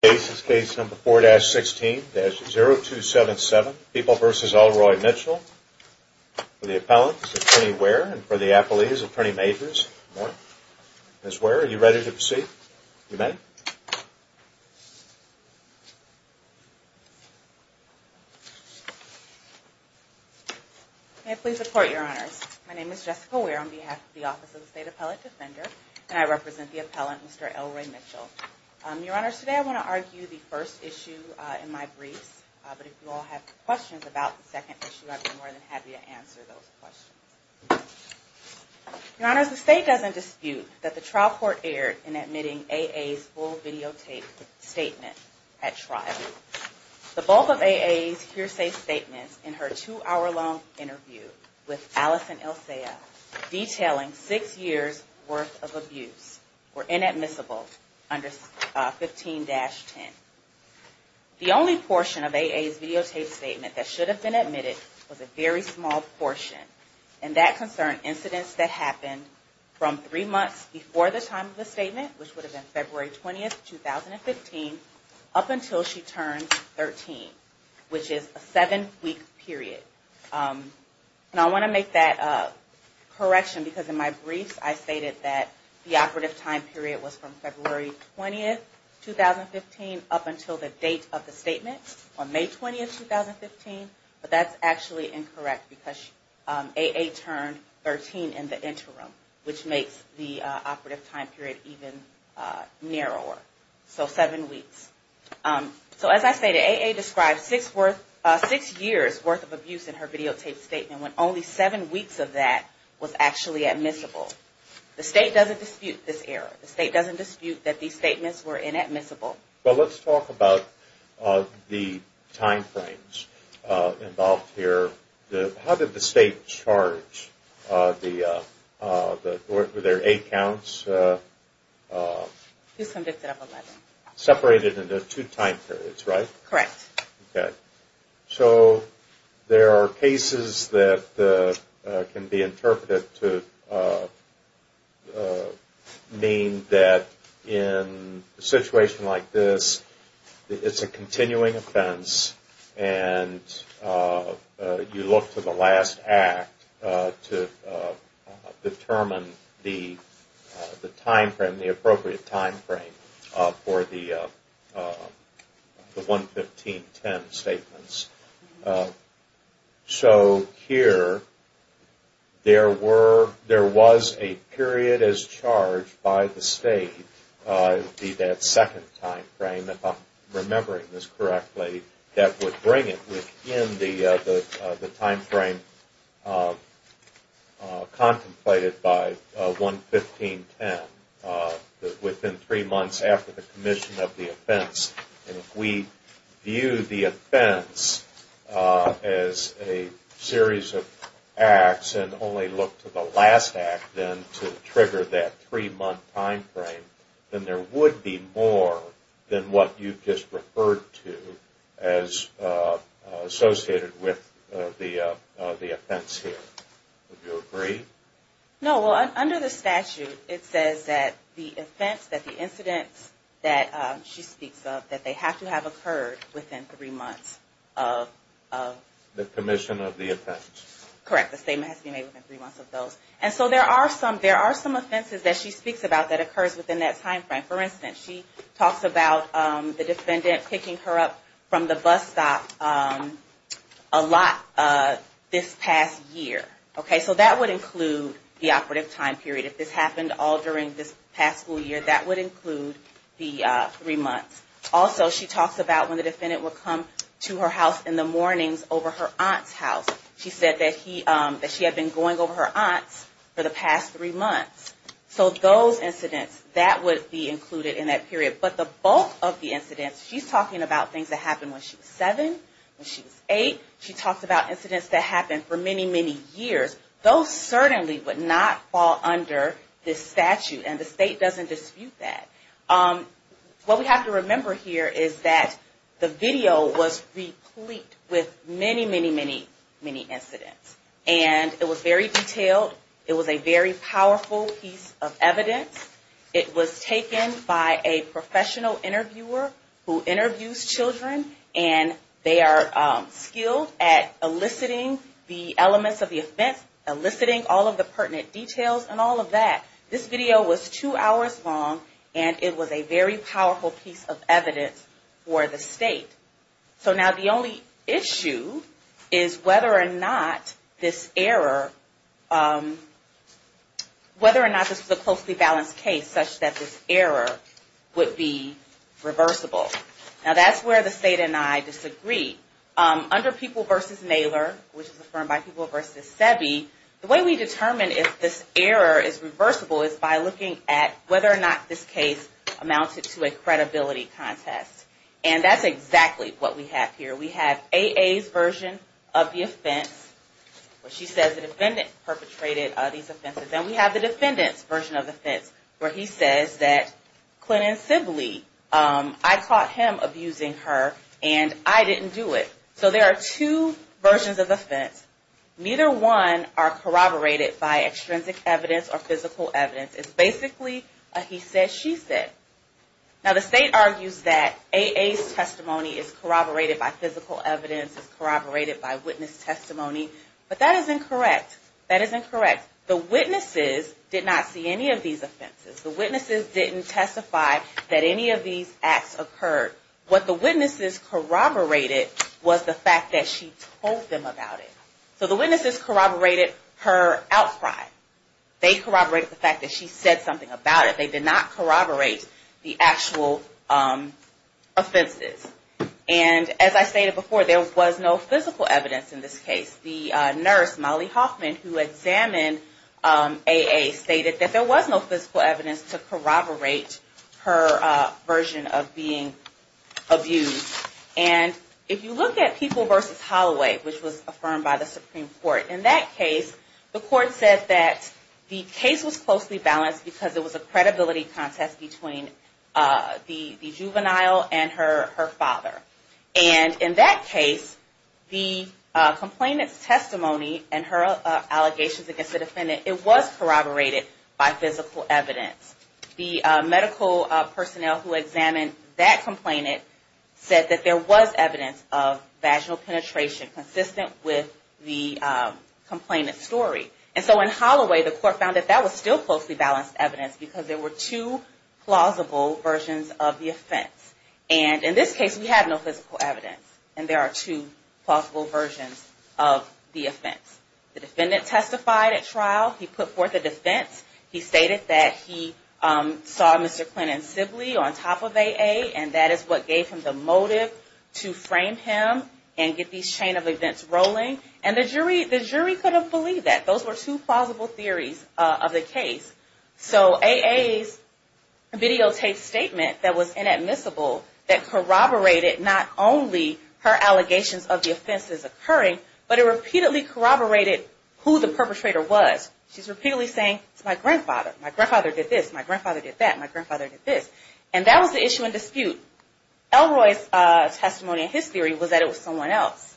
cases. Case number four dash 16-0277 people versus Elroy Mitchell for the appellant's attorney where and for the Apple is attorney majors. That's where you're ready to proceed. You may please support your honors. My name is Jessica. We're on behalf of the Office of the State Appellate Defender and I represent the appellant. Mr Elroy Mitchell. Your honors, today I want to argue the first issue in my briefs. But if you all have questions about the second issue, I'd be more than happy to answer those questions. Your honors, the state doesn't dispute that the trial court erred in admitting a full videotape statement at trial. The bulk of a hearsay statements in her two hour long interview with Allison Elsea detailing six years worth of abuse were inadmissible under 15-10. The only portion of AA's videotape statement that should have been admitted was a very small portion. And that concerned incidents that happened from three months before the time of the statement, which would have been February 20th, 2015, up until she turned 13, which is a seven week period. And I want to make that correction because in my briefs I stated that the operative time period was from February 20th, 2015 up until the date of the statement on May 20th, 2015. But that's actually incorrect because AA turned 13 in the interim, which makes the operative time period even narrower. So seven weeks. So as I stated, AA described six years worth of abuse in her videotape statement when only seven weeks of that was actually admissible. The state doesn't dispute this error. The state doesn't dispute that these statements were inadmissible. Well, let's talk about the time frames involved here. How did the state charge? Were there eight counts? She was convicted of 11. Separated into two time periods, right? Correct. Okay. So there are cases that can be interpreted to mean that in a situation like this, it's a continuing offense and you look to the last act to determine the appropriate time frame for the 115.10 statements. So here there was a period as charged by the state, that second time frame, if I'm remembering this correctly, was 115.10, within three months after the commission of the offense. If we view the offense as a series of acts and only look to the last act then to trigger that three-month time frame, then there would be more than what you just referred to as associated with the offense here. Would you agree? No. Well, under the statute, it says that the offense, that the incident that she speaks of, that they have to have occurred within three months of... The commission of the offense. Correct. The statement has to be made within three months of those. And so there are some offenses that she speaks about that occurs within that time frame. For instance, she talks about the defendant picking her up from the bus stop a lot this past year. Okay? So that would include the operative time period. If this happened all during this past school year, that would include the three months. Also, she talks about when the defendant would come to her house in the mornings over her aunt's house. She said that she had been going over her aunt's for the past three months. So those incidents, that would be included in that period. But the bulk of the incidents, she's talking about things that happened when she was seven, when she was eight. She talks about incidents that happened for many, many years. Those certainly would not fall under this statute. And the state doesn't dispute that. What we have to remember here is that the video was replete with many, many, many, many incidents. And it was very detailed. It was a very powerful piece of evidence. It was taken by a professional interviewer who interviews children. And they are skilled at eliciting the elements of the offense, eliciting all of the pertinent details and all of that. This video was two hours long. And it was a very powerful piece of evidence for the state. So now the only issue is whether or not this error, whether or not this was a closely balanced case such that this error would be reversible. Now that's where the state and I disagree. Under People v. Naylor, which is affirmed by People v. SEBI, the way we determine if this error is reversible is by looking at whether or not this case amounted to a credibility contest. And that's exactly what we have here. We have AA's version of the offense where she says the defendant perpetrated these offenses. And we have the defendant's version of the offense where he says that Clinton Sibley, I caught him abusing her and I didn't do it. So there are two versions of offense. Neither one are corroborated by extrinsic evidence or physical evidence. It's corroborated by physical evidence. It's corroborated by witness testimony. But that is incorrect. That is incorrect. The witnesses did not see any of these offenses. The witnesses didn't testify that any of these acts occurred. What the witnesses corroborated was the fact that she told them about it. So the witnesses corroborated her outcry. They corroborated the fact that she said something about it. They did not corroborate the actual offenses. And as I stated before, there was no physical evidence in this case. The nurse, Molly Hoffman, who examined AA stated that there was no physical evidence to corroborate her version of being abused. And if you look at People v. Holloway, which was affirmed by the Supreme Court, in that case the court said that the case was closely balanced because it was a credibility contest between the juvenile and her father. And in that case, the complainant's testimony and her allegations against the defendant, it was corroborated by physical evidence. The medical personnel who examined that complainant said that there was evidence of vaginal penetration consistent with the evidence. And so in Holloway, the court found that that was still closely balanced evidence because there were two plausible versions of the offense. And in this case, we have no physical evidence and there are two plausible versions of the offense. The defendant testified at trial. He put forth a defense. He stated that he saw Mr. Clinton's sibling on top of AA and that is what gave him the motive to frame him and get these chain of events rolling. And the jury couldn't believe that. Those were two plausible theories of the case. So AA's videotaped statement that was inadmissible that corroborated not only her allegations of the offenses occurring, but it repeatedly corroborated who the perpetrator was. She's repeatedly saying, it's my grandfather. My grandfather did this. My grandfather did that. My grandfather did this. And that was the issue in dispute. Elroy's testimony and his theory was that it was someone else.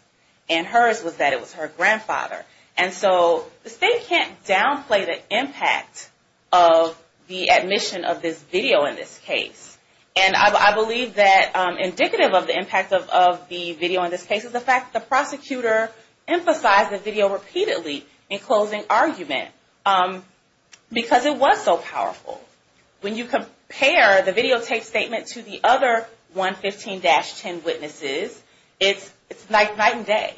And hers was that it was her grandfather. And so the state can't downplay the impact of the admission of this video in this case. And I believe that indicative of the impact of the video in this case is the fact that the prosecutor emphasized the video repeatedly in closing argument because it was so powerful. When you compare the videotaped statement to the other 115-10 witnesses, it's night and day.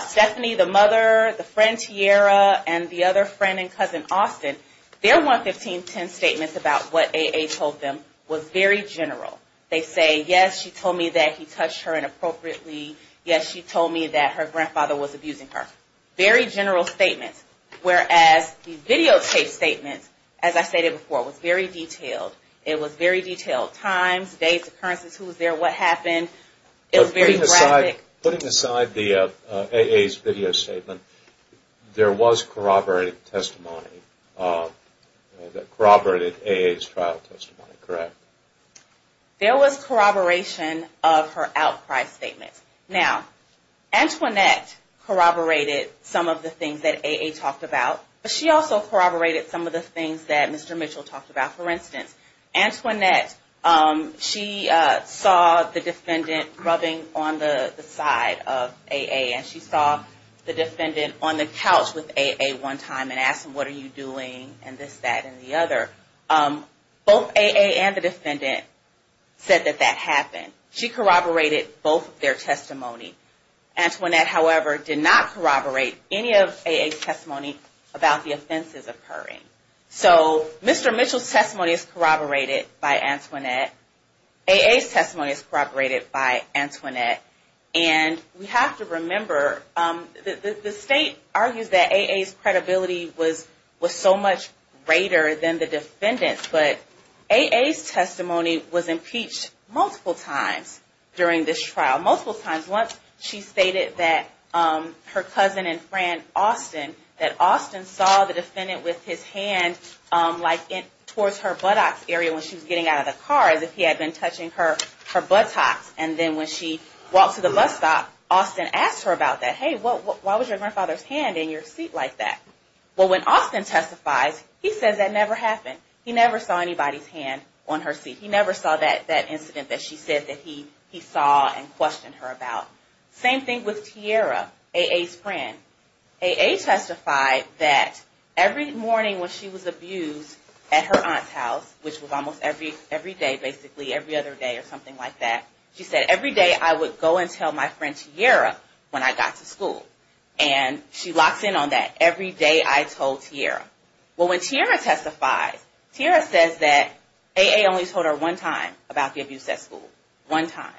Stephanie, the mother, the friend Tiara, and the other friend and cousin Austin, their 115-10 statements about what AA told them was very general. They say, yes, she told me that he touched her inappropriately. Yes, she told me that her grandfather was abusing her. Very general statements. Whereas the videotaped statement, as I stated before, was very detailed. It was very detailed. Times, dates, occurrences, who was there, what happened. It was very graphic. Putting aside AA's video statement, there was corroborated testimony. Corroborated AA's trial testimony, correct? There was corroboration of her outcry statement. Now, Antoinette corroborated some of the things that AA talked about, but she also corroborated some of the things that Mr. Mitchell talked about. For instance, Antoinette, she saw the defendant rubbing on the side of AA, and she saw the defendant on the couch with AA one time and asked him, what are you doing, and this, that, and the other. Both AA and the defendant said that that happened. She corroborated both of their testimony. Antoinette, however, did not corroborate any of AA's testimony about the offenses occurring. So, Mr. Mitchell's testimony is corroborated by Antoinette. AA's testimony is corroborated by Antoinette. And we have to remember, the state argues that AA's credibility was so much greater than the defendant's, but AA's testimony was impeached multiple times during this trial. Multiple times. Once she stated that her cousin and friend, Austin, that Austin saw the defendant with his hand like towards her buttocks area when she was getting out of the car, as if he had been touching her buttocks. And then when she walked to the bus stop, Austin asked her about that. Hey, why was your grandfather's hand in your seat like that? Well, when Austin testifies, he says that never happened. He never saw anybody's hand on her seat. He never saw that incident that she saw. AA's friend. AA testified that every morning when she was abused at her aunt's house, which was almost every day, basically, every other day or something like that, she said, every day I would go and tell my friend Tiara when I got to school. And she locks in on that. Every day I told Tiara. Well, when Tiara testifies, Tiara says that AA only told her one time about the abuse at school. One time.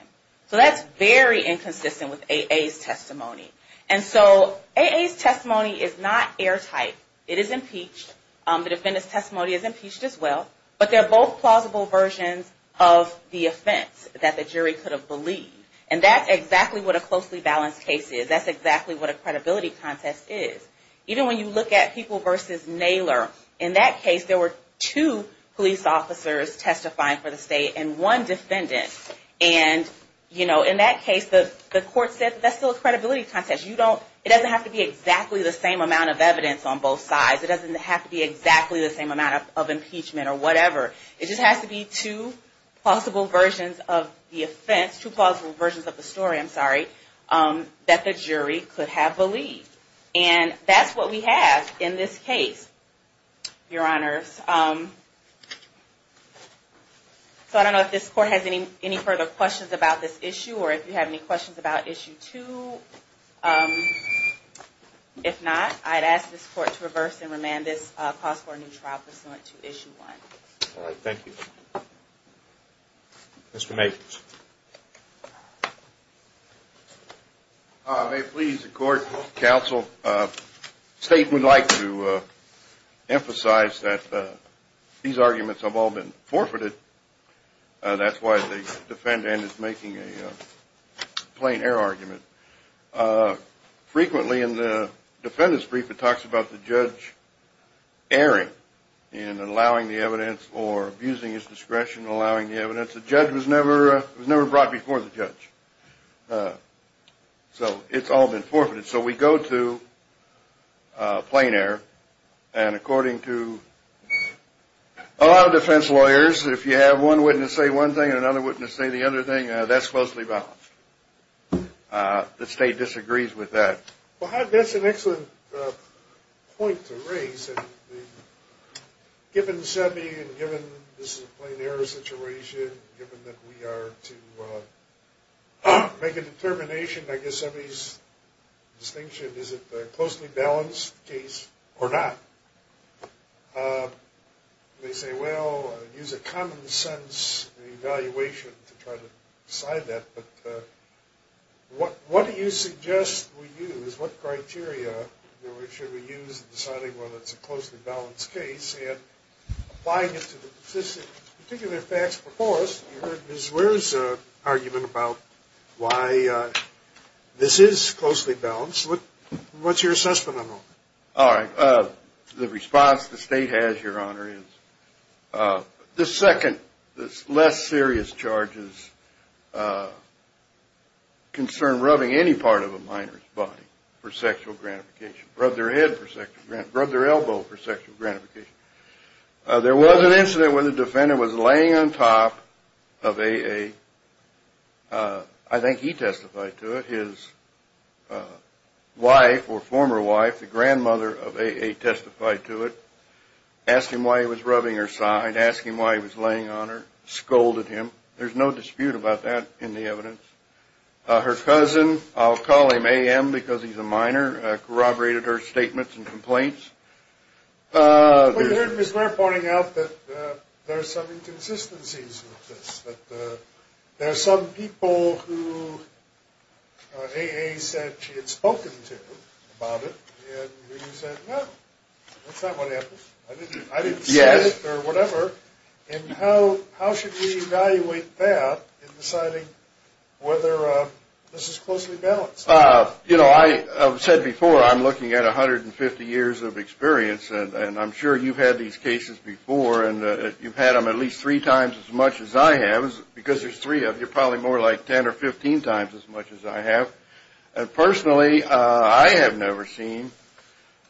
So, that's very inconsistent with AA's testimony. And so, AA's testimony is not airtight. It is impeached. The defendant's testimony is impeached as well. But they're both plausible versions of the offense that the jury could have believed. And that's exactly what a closely balanced case is. That's exactly what a credibility contest is. Even when you look at People v. Naylor, in that case, there were two police officers testifying for the state and one defendant. And, you know, in that case, the court said that's still a credibility contest. It doesn't have to be exactly the same amount of evidence on both sides. It doesn't have to be exactly the same amount of impeachment or whatever. It just has to be two plausible versions of the offense, two plausible versions of the story, I'm sorry, that the jury could have believed. And that's what we have in this case, Your Honors. So, I don't know if this Court has any further questions about this issue or if you have any questions about Issue 2. If not, I'd ask this Court to reverse and remand this cause for a new trial pursuant to Issue 1. All right. Thank you. Mr. Maples. May it please the Court, Counsel, the state would like to emphasize that these arguments have all been forfeited. That's why the defendant is making a plain error argument. Frequently in the defendant's brief, it talks about the judge erring in allowing the evidence or abusing his discretion in allowing the evidence. The judge was never brought before the judge. So, it's all been forfeited. So, we go to plain error. And according to a lot of defense lawyers, if you have one witness say one thing and another witness say the other thing, that's closely balanced. The state disagrees with that. Well, that's an excellent point to raise. Given SEBI and given this is a plain error situation, given that we are to make a determination, I guess SEBI's distinction, is it a closely balanced case or not? They say, well, use a common sense evaluation to try to decide that. But what do you suggest we use? What criteria should we use in deciding whether it's a closely balanced case? And applying it to the particular facts before us, you heard the argument about why this is closely balanced. What's your assessment on that? All right. The response the state has, Your Honor, is the second, the less serious charges concern rubbing any part of a minor's body for sexual gratification. Rub their head for sexual gratification. Rub their elbow for sexual gratification. There was an incident where the defendant was laying on top of AA. I think he testified to it. His wife or former wife, the grandmother of AA testified to it. Asked him why he was rubbing her side. Asked him why he was laying on her. Scolded him. There's no dispute about that in the evidence. Her cousin, I'll call him AM because he's a minor, corroborated her statements and complaints. We heard Ms. Ware pointing out that there's some inconsistencies with this, that there's some people who AA said she had spoken to about it and he said, no, that's not what happened. I didn't say it or whatever. And how should we evaluate that in deciding whether this is closely balanced? You know, I said before, I'm looking at 150 years of experience and I'm sure you've had these cases before and you've had them at least three times as much as I have. Because there's three of you, probably more like 10 or 15 times as much as I have. And personally, I have never seen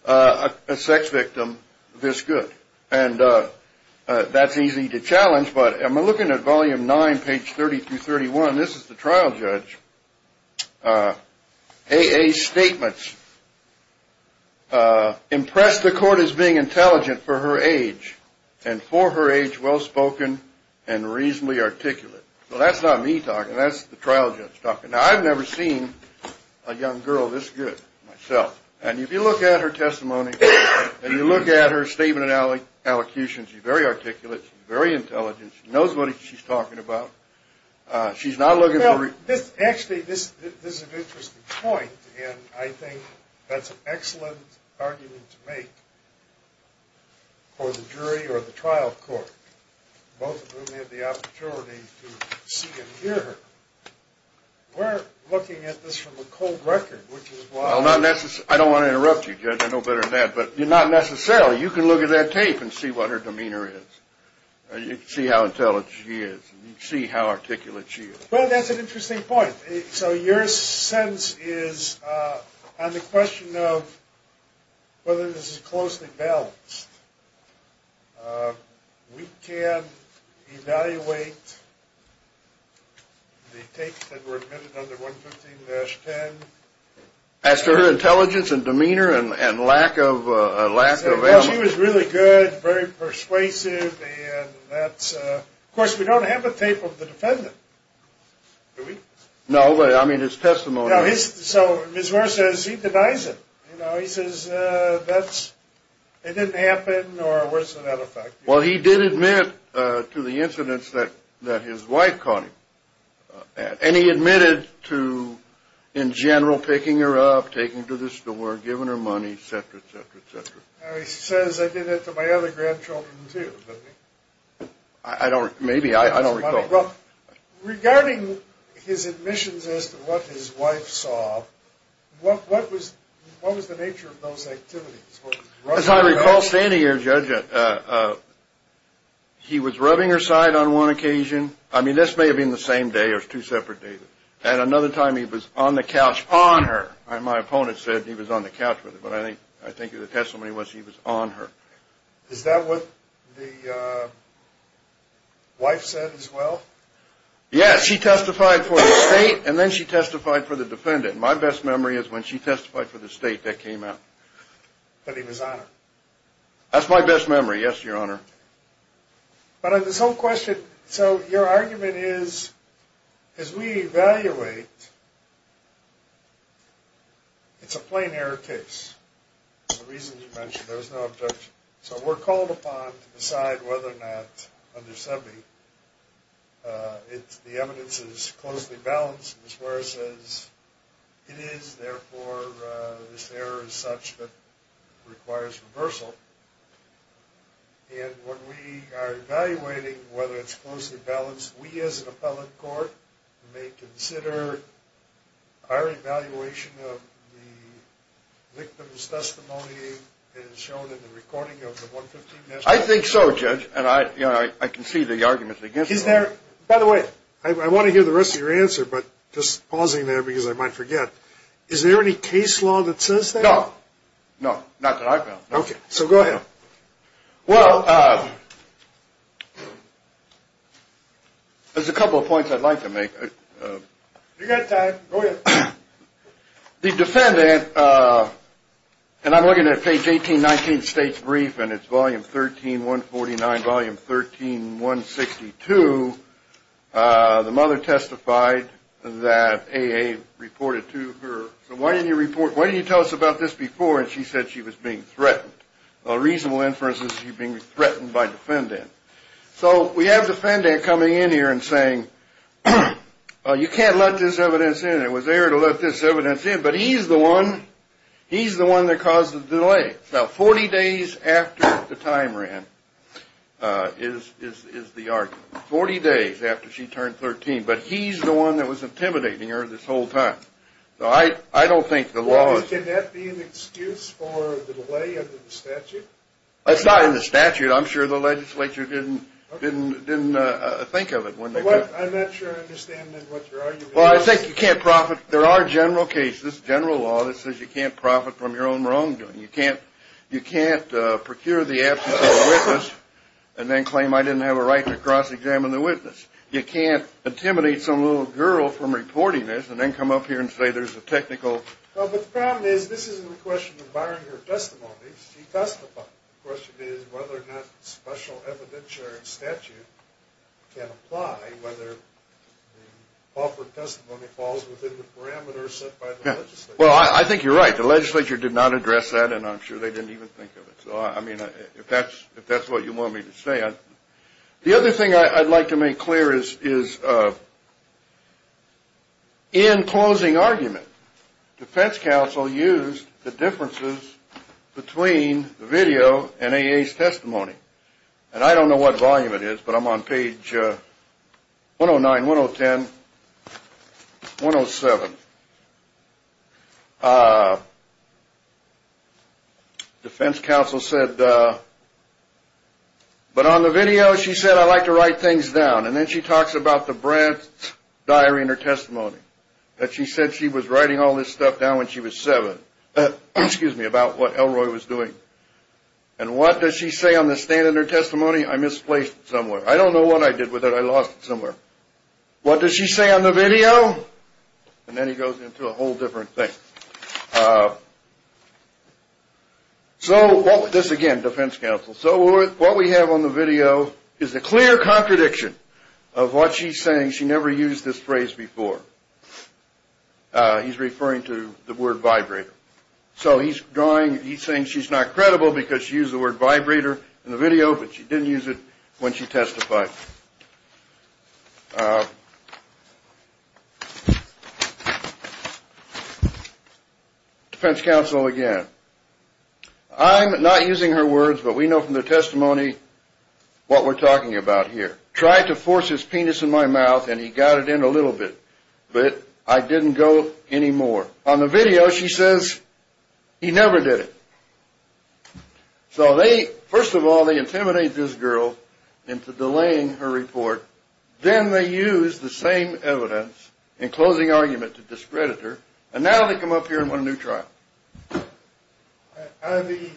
a sex victim this good. And that's easy to challenge. But I'm looking at volume 9, page 30 this is the trial judge. AA's statements impressed the court as being intelligent for her age and for her age well spoken and reasonably articulate. So that's not me talking, that's the trial judge talking. Now, I've never seen a young girl this good myself. And if you look at her testimony and you look at her statement and allocutions, she's very articulate, she's very intelligent. Actually, this is an interesting point and I think that's an excellent argument to make for the jury or the trial court. Both of whom had the opportunity to see and hear her. We're looking at this from a cold record, which is why... I don't want to interrupt you, Judge, I know better than that. But not necessarily. You can look at that tape and see what her Well, that's an interesting point. So your sense is, on the question of whether this is closely balanced, we can evaluate the tapes that were admitted under 115-10. As to her intelligence and demeanor and lack of element. She was really good, very persuasive. Of course, we don't have a defendant. Do we? No, but I mean his testimony. So Ms. Moore says he denies it. He says that it didn't happen or worse than that effect. Well, he did admit to the incidents that his wife caught him. And he admitted to, in general, picking her up, taking her to the store, giving her money, etc., etc., etc. Now, he says I did it to my other grandchildren too. I don't, maybe, I Regarding his admissions as to what his wife saw, what was the nature of those activities? As I recall standing here, Judge, he was rubbing her side on one occasion. I mean, this may have been the same day or two separate days. And another time he was on the couch on her. And my opponent said he was on the couch with her. But I think, I think the testimony was he was on her. Is that what the wife said as well? Yes, she testified for the state and then she testified for the defendant. My best memory is when she testified for the state that came out. But he was on her. That's my best memory. Yes, your honor. But this whole question, so your argument is, as we evaluate, it's a plain error case. The reason you mentioned there was no objection. So we're called upon to decide whether or not, under SEBI, the evidence is closely balanced. Ms. Ware says it is, therefore, this error is such that requires reversal. And when we are evaluating whether it's closely balanced, we as an appellate court may consider our evaluation of the I think so, Judge. And I can see the arguments against that. By the way, I want to hear the rest of your answer, but just pausing there because I might forget. Is there any case law that says that? No, not that I've found. Okay, so go ahead. Well, there's a couple of points I'd like to make. You've got time. Go ahead. The defendant, and I'm looking at page 18, 19th state's brief, and it's volume 13, 149, volume 13, 162. The mother testified that AA reported to her. So why didn't you report? Why didn't you tell us about this before? And she said she was being threatened. A reasonable inference is she was being threatened by defendant. So we have defendant coming in here and saying, well, you can't let this evidence in. It was there to let this evidence in. But he's the one. He's the one that caused the delay. Now, 40 days after the time ran is the argument. 40 days after she turned 13. But he's the one that was intimidating her this whole time. So I don't think the law... Can that be an excuse for the delay of the statute? It's not in the statute. I'm sure the legislature didn't think of it. I'm not sure I understand what your argument is. Well, I think you can't profit. There are general cases, general law, that says you can't profit from your own wrongdoing. You can't procure the absence of a witness and then claim I didn't have a right to cross-examine the witness. You can't intimidate some little girl from reporting this and then come up here and say there's a technical... No, but the problem is this isn't a question of barring her testimony. She testified. The question is whether or not special evidentiary statute can apply, whether the parameters set by the legislature. Well, I think you're right. The legislature did not address that and I'm sure they didn't even think of it. So, I mean, if that's what you want me to say. The other thing I'd like to make clear is in closing argument, defense counsel used the differences between the video and AA's testimony. And I don't know what volume it is, but I'm on page 109, 1010, 107. Defense counsel said, but on the video she said I like to write things down. And then she talks about the Brad's diary in her testimony. That she said she was writing all this stuff down when she was seven. Excuse me, about what Elroy was doing. And what does she say on the stand in her testimony? I misplaced it somewhere. I don't know what I did with it. I lost it somewhere. What does she say on the video? And then he goes into a whole different thing. So, this again, defense counsel. So what we have on the video is a clear contradiction of what she's saying. She never used this phrase before. He's referring to the word vibrator. So he's drawing, he's saying she's not credible because she used the word vibrator in the video, but she didn't use it when she testified. Defense counsel again. I'm not using her words, but we know from the testimony what we're talking about here. Tried to force his penis in my mouth and he got it in a little bit. But I didn't go anymore. On the video she says he never did it. So first of all they intimidate this girl into delaying her report. Then they use the same evidence in closing argument to discredit her. And now they come up here and want a new trial. Are the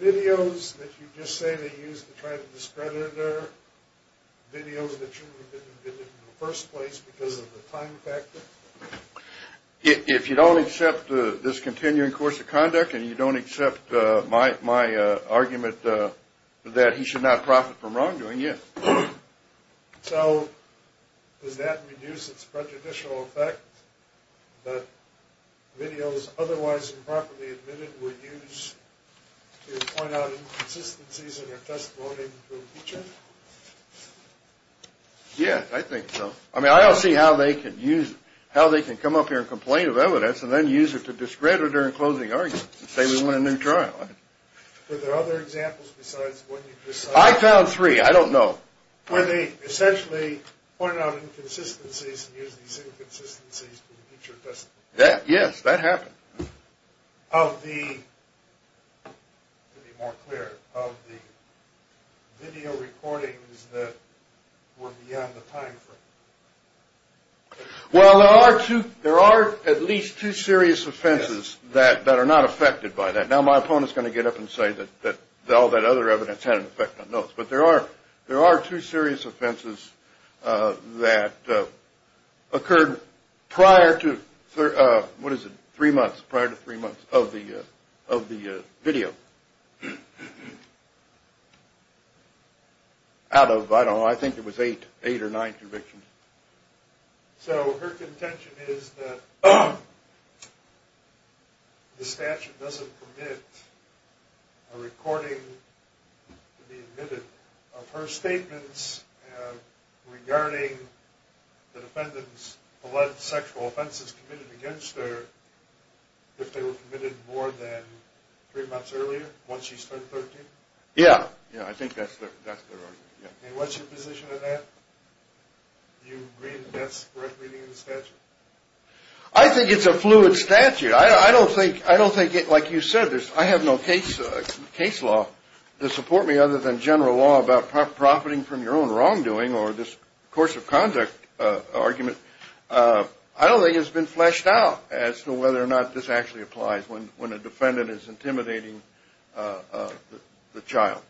videos that you just say they use to try to discredit her videos that you would have been in the first place because of the time factor? If you don't accept this continuing course of argument that he should not profit from wrongdoing, yes. So does that reduce its prejudicial effect that videos otherwise improperly admitted were used to point out inconsistencies in her testimony in the future? Yes, I think so. I mean I don't see how they can use, how they can come up here and complain of evidence and then use it to discredit her in closing argument and want a new trial. Are there other examples besides what you just said? I found three, I don't know. Where they essentially point out inconsistencies and use these inconsistencies in the future testimony? Yes, that happened. Of the, to be more clear, of the video recordings that were beyond the time frame? Well there are two, there are at least two serious offenses that are not affected by that. Now my opponent is going to get up and say that all that other evidence had an effect on those. But there are two serious offenses that occurred prior to, what is it, three months, prior to three months of the video. Out of, I don't know, I think it was eight or nine convictions. So her contention is that the statute doesn't commit a recording to be admitted of her statements regarding the defendant's sexual offenses committed against her if they were committed more than three months earlier, once she's turned 13? Yeah, yeah, I think that's their record. And what's your position on that? Do you agree that that's correct reading of the statute? I think it's a fluid statute. I don't think, I don't think, like you said, I have no case law to support me other than general law about profiting from your own wrongdoing or this course of conduct argument. I don't think it's been fleshed out as to whether or not this actually applies when a defendant is intimidating the child.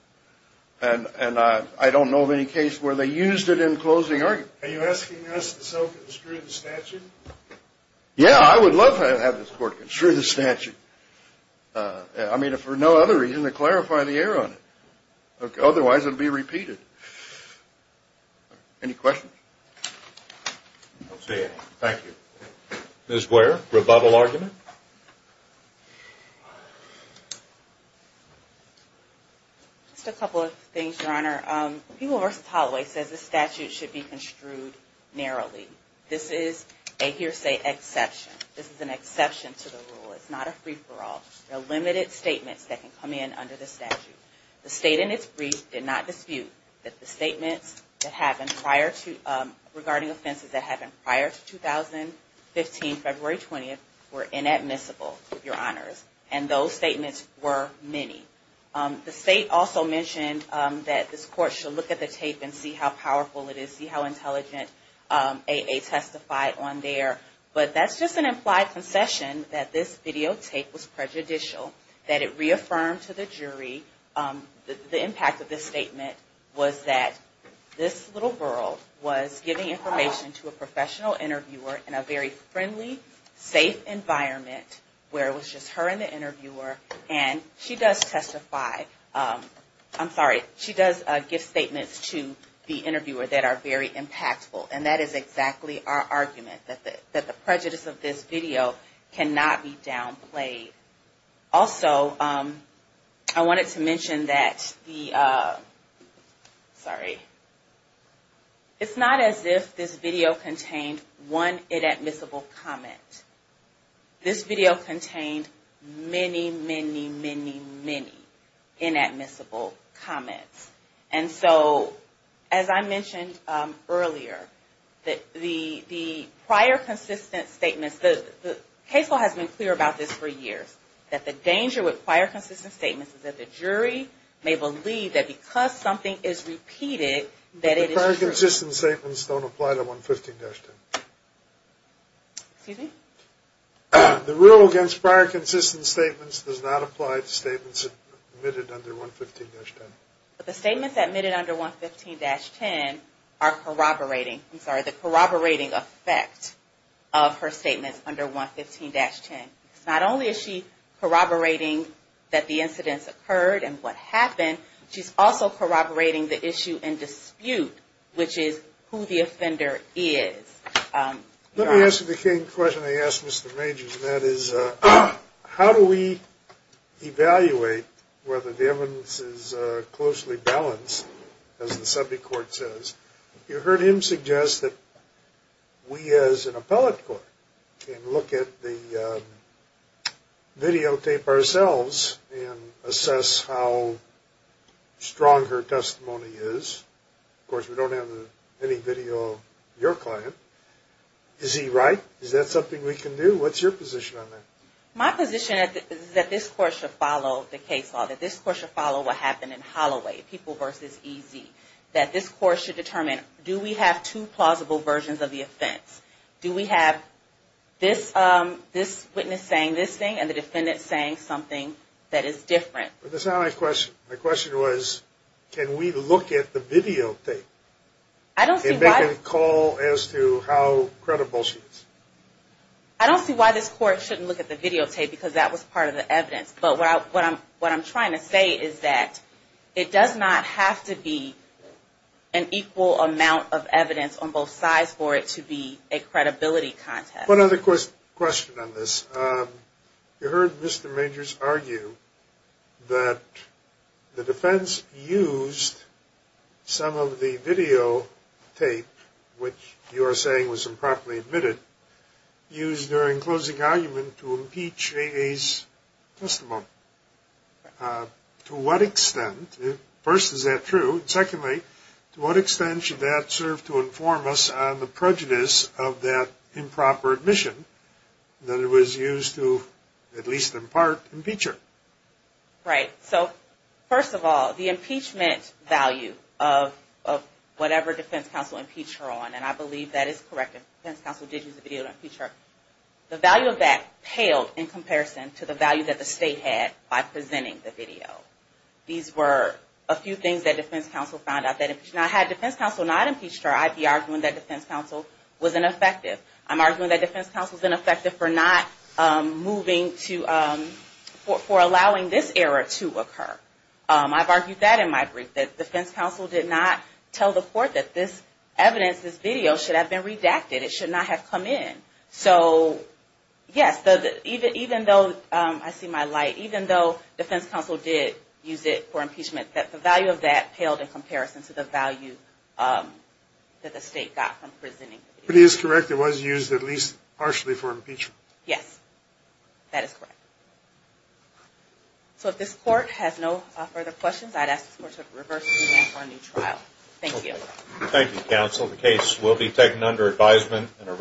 And I don't know of any case where they used it in closing argument. Are you asking us to self-construe the statute? Yeah, I would love to have this court construe the statute. I mean, for no other reason than to clarify the error on it. Otherwise, it would be repeated. Any questions? I don't see any. Thank you. Ms. Ware, rebuttal argument? Just a couple of things, Your Honor. People vs. Holloway says the statute should be construed narrowly. This is a hearsay exception. This is an exception to the rule. It's not a free-for-all. There are limited statements that can come in under the statute. The state in its brief did not dispute that the statements that happened prior to regarding offenses that happened prior to 2015, February 20th were inadmissible, Your Honors. And those statements were many. The state also mentioned that this court should look at the tape and see how powerful it is, see how intelligent AA testified on there. But that's just an implied concession that this videotape was prejudicial, that it reaffirmed to the jury the impact of this statement was that this little girl was giving information to a professional interviewer in a very friendly, safe environment where it was just her and the interviewer. And she does testify, I'm sorry, she does give statements to the interviewer that are very impactful. And that is exactly our argument, that the prejudice of this video cannot be downplayed. Also, I wanted to mention that the, sorry, it's not as if this video contained one inadmissible comment. This video contained many, many, many, many inadmissible comments. And so, as I mentioned earlier, that the prior consistent statements, the case law has been clear about this for years, that the danger with prior consistent statements is repeated. But the prior consistent statements don't apply to 115-10. Excuse me? The rule against prior consistent statements does not apply to statements admitted under 115-10. But the statements admitted under 115-10 are corroborating, I'm sorry, the corroborating effect of her statements under 115-10. Not only is she corroborating that the incidents occurred and what happened, she's also corroborating the issue and dispute, which is who the offender is. Let me ask you the same question I asked Mr. Majors, and that is, how do we evaluate whether the evidence is closely balanced, as the subject court says? You heard him suggest that we as an appellate court can look at the videotape ourselves and assess how strong her testimony is. Of course, we don't have any video of your client. Is he right? Is that something we can do? What's your position on that? My position is that this court should follow the case law, that this court should follow what happened in Holloway, People v. EZ, that this court should determine, do we have two plausible versions of the offense? Do we have this witness saying this thing and the defendant saying something that is different? But that's not my question. My question was, can we look at the videotape and make a call as to how credible she is? I don't see why this court shouldn't look at the videotape, because that was part of the evidence. But what I'm trying to say is that it does not have to be an equal amount of evidence on both sides for it to be a credibility contest. One other question on this. You heard Mr. Majors argue that the defense used some of the videotape, which you are saying was improperly admitted, used during closing argument to impeach AA's testimony. To what extent, first, is that true? And secondly, to what extent should that serve to inform us on the prejudice of that improper admission that it was used to, at least in part, impeach her? Right. So, first of all, the impeachment value of whatever defense counsel impeached her on, and I believe that is correct, and defense counsel did use the video to impeach her, the value of that paled in comparison to the value that the state had by presenting the video. These were a few things that defense counsel found out. Now, had defense counsel not impeached her, I'd be arguing that defense counsel was ineffective. I'm arguing that defense counsel is ineffective for not moving to, for allowing this error to occur. I've argued that in my brief, that defense counsel did not tell the court that this evidence, this video, should have been redacted. It should not have come in. So, yes, even though, I see my light, even though defense counsel did use it for impeachment, that the value of that paled in comparison to the value that the state got from presenting the video. But it is correct, it was used at least partially for impeachment. Yes, that is correct. So, if this court has no further questions, I'd ask this court to reverse the event for a new trial. Thank you. Thank you, counsel. The case will be taken under advisement and a new trial is scheduled for next week.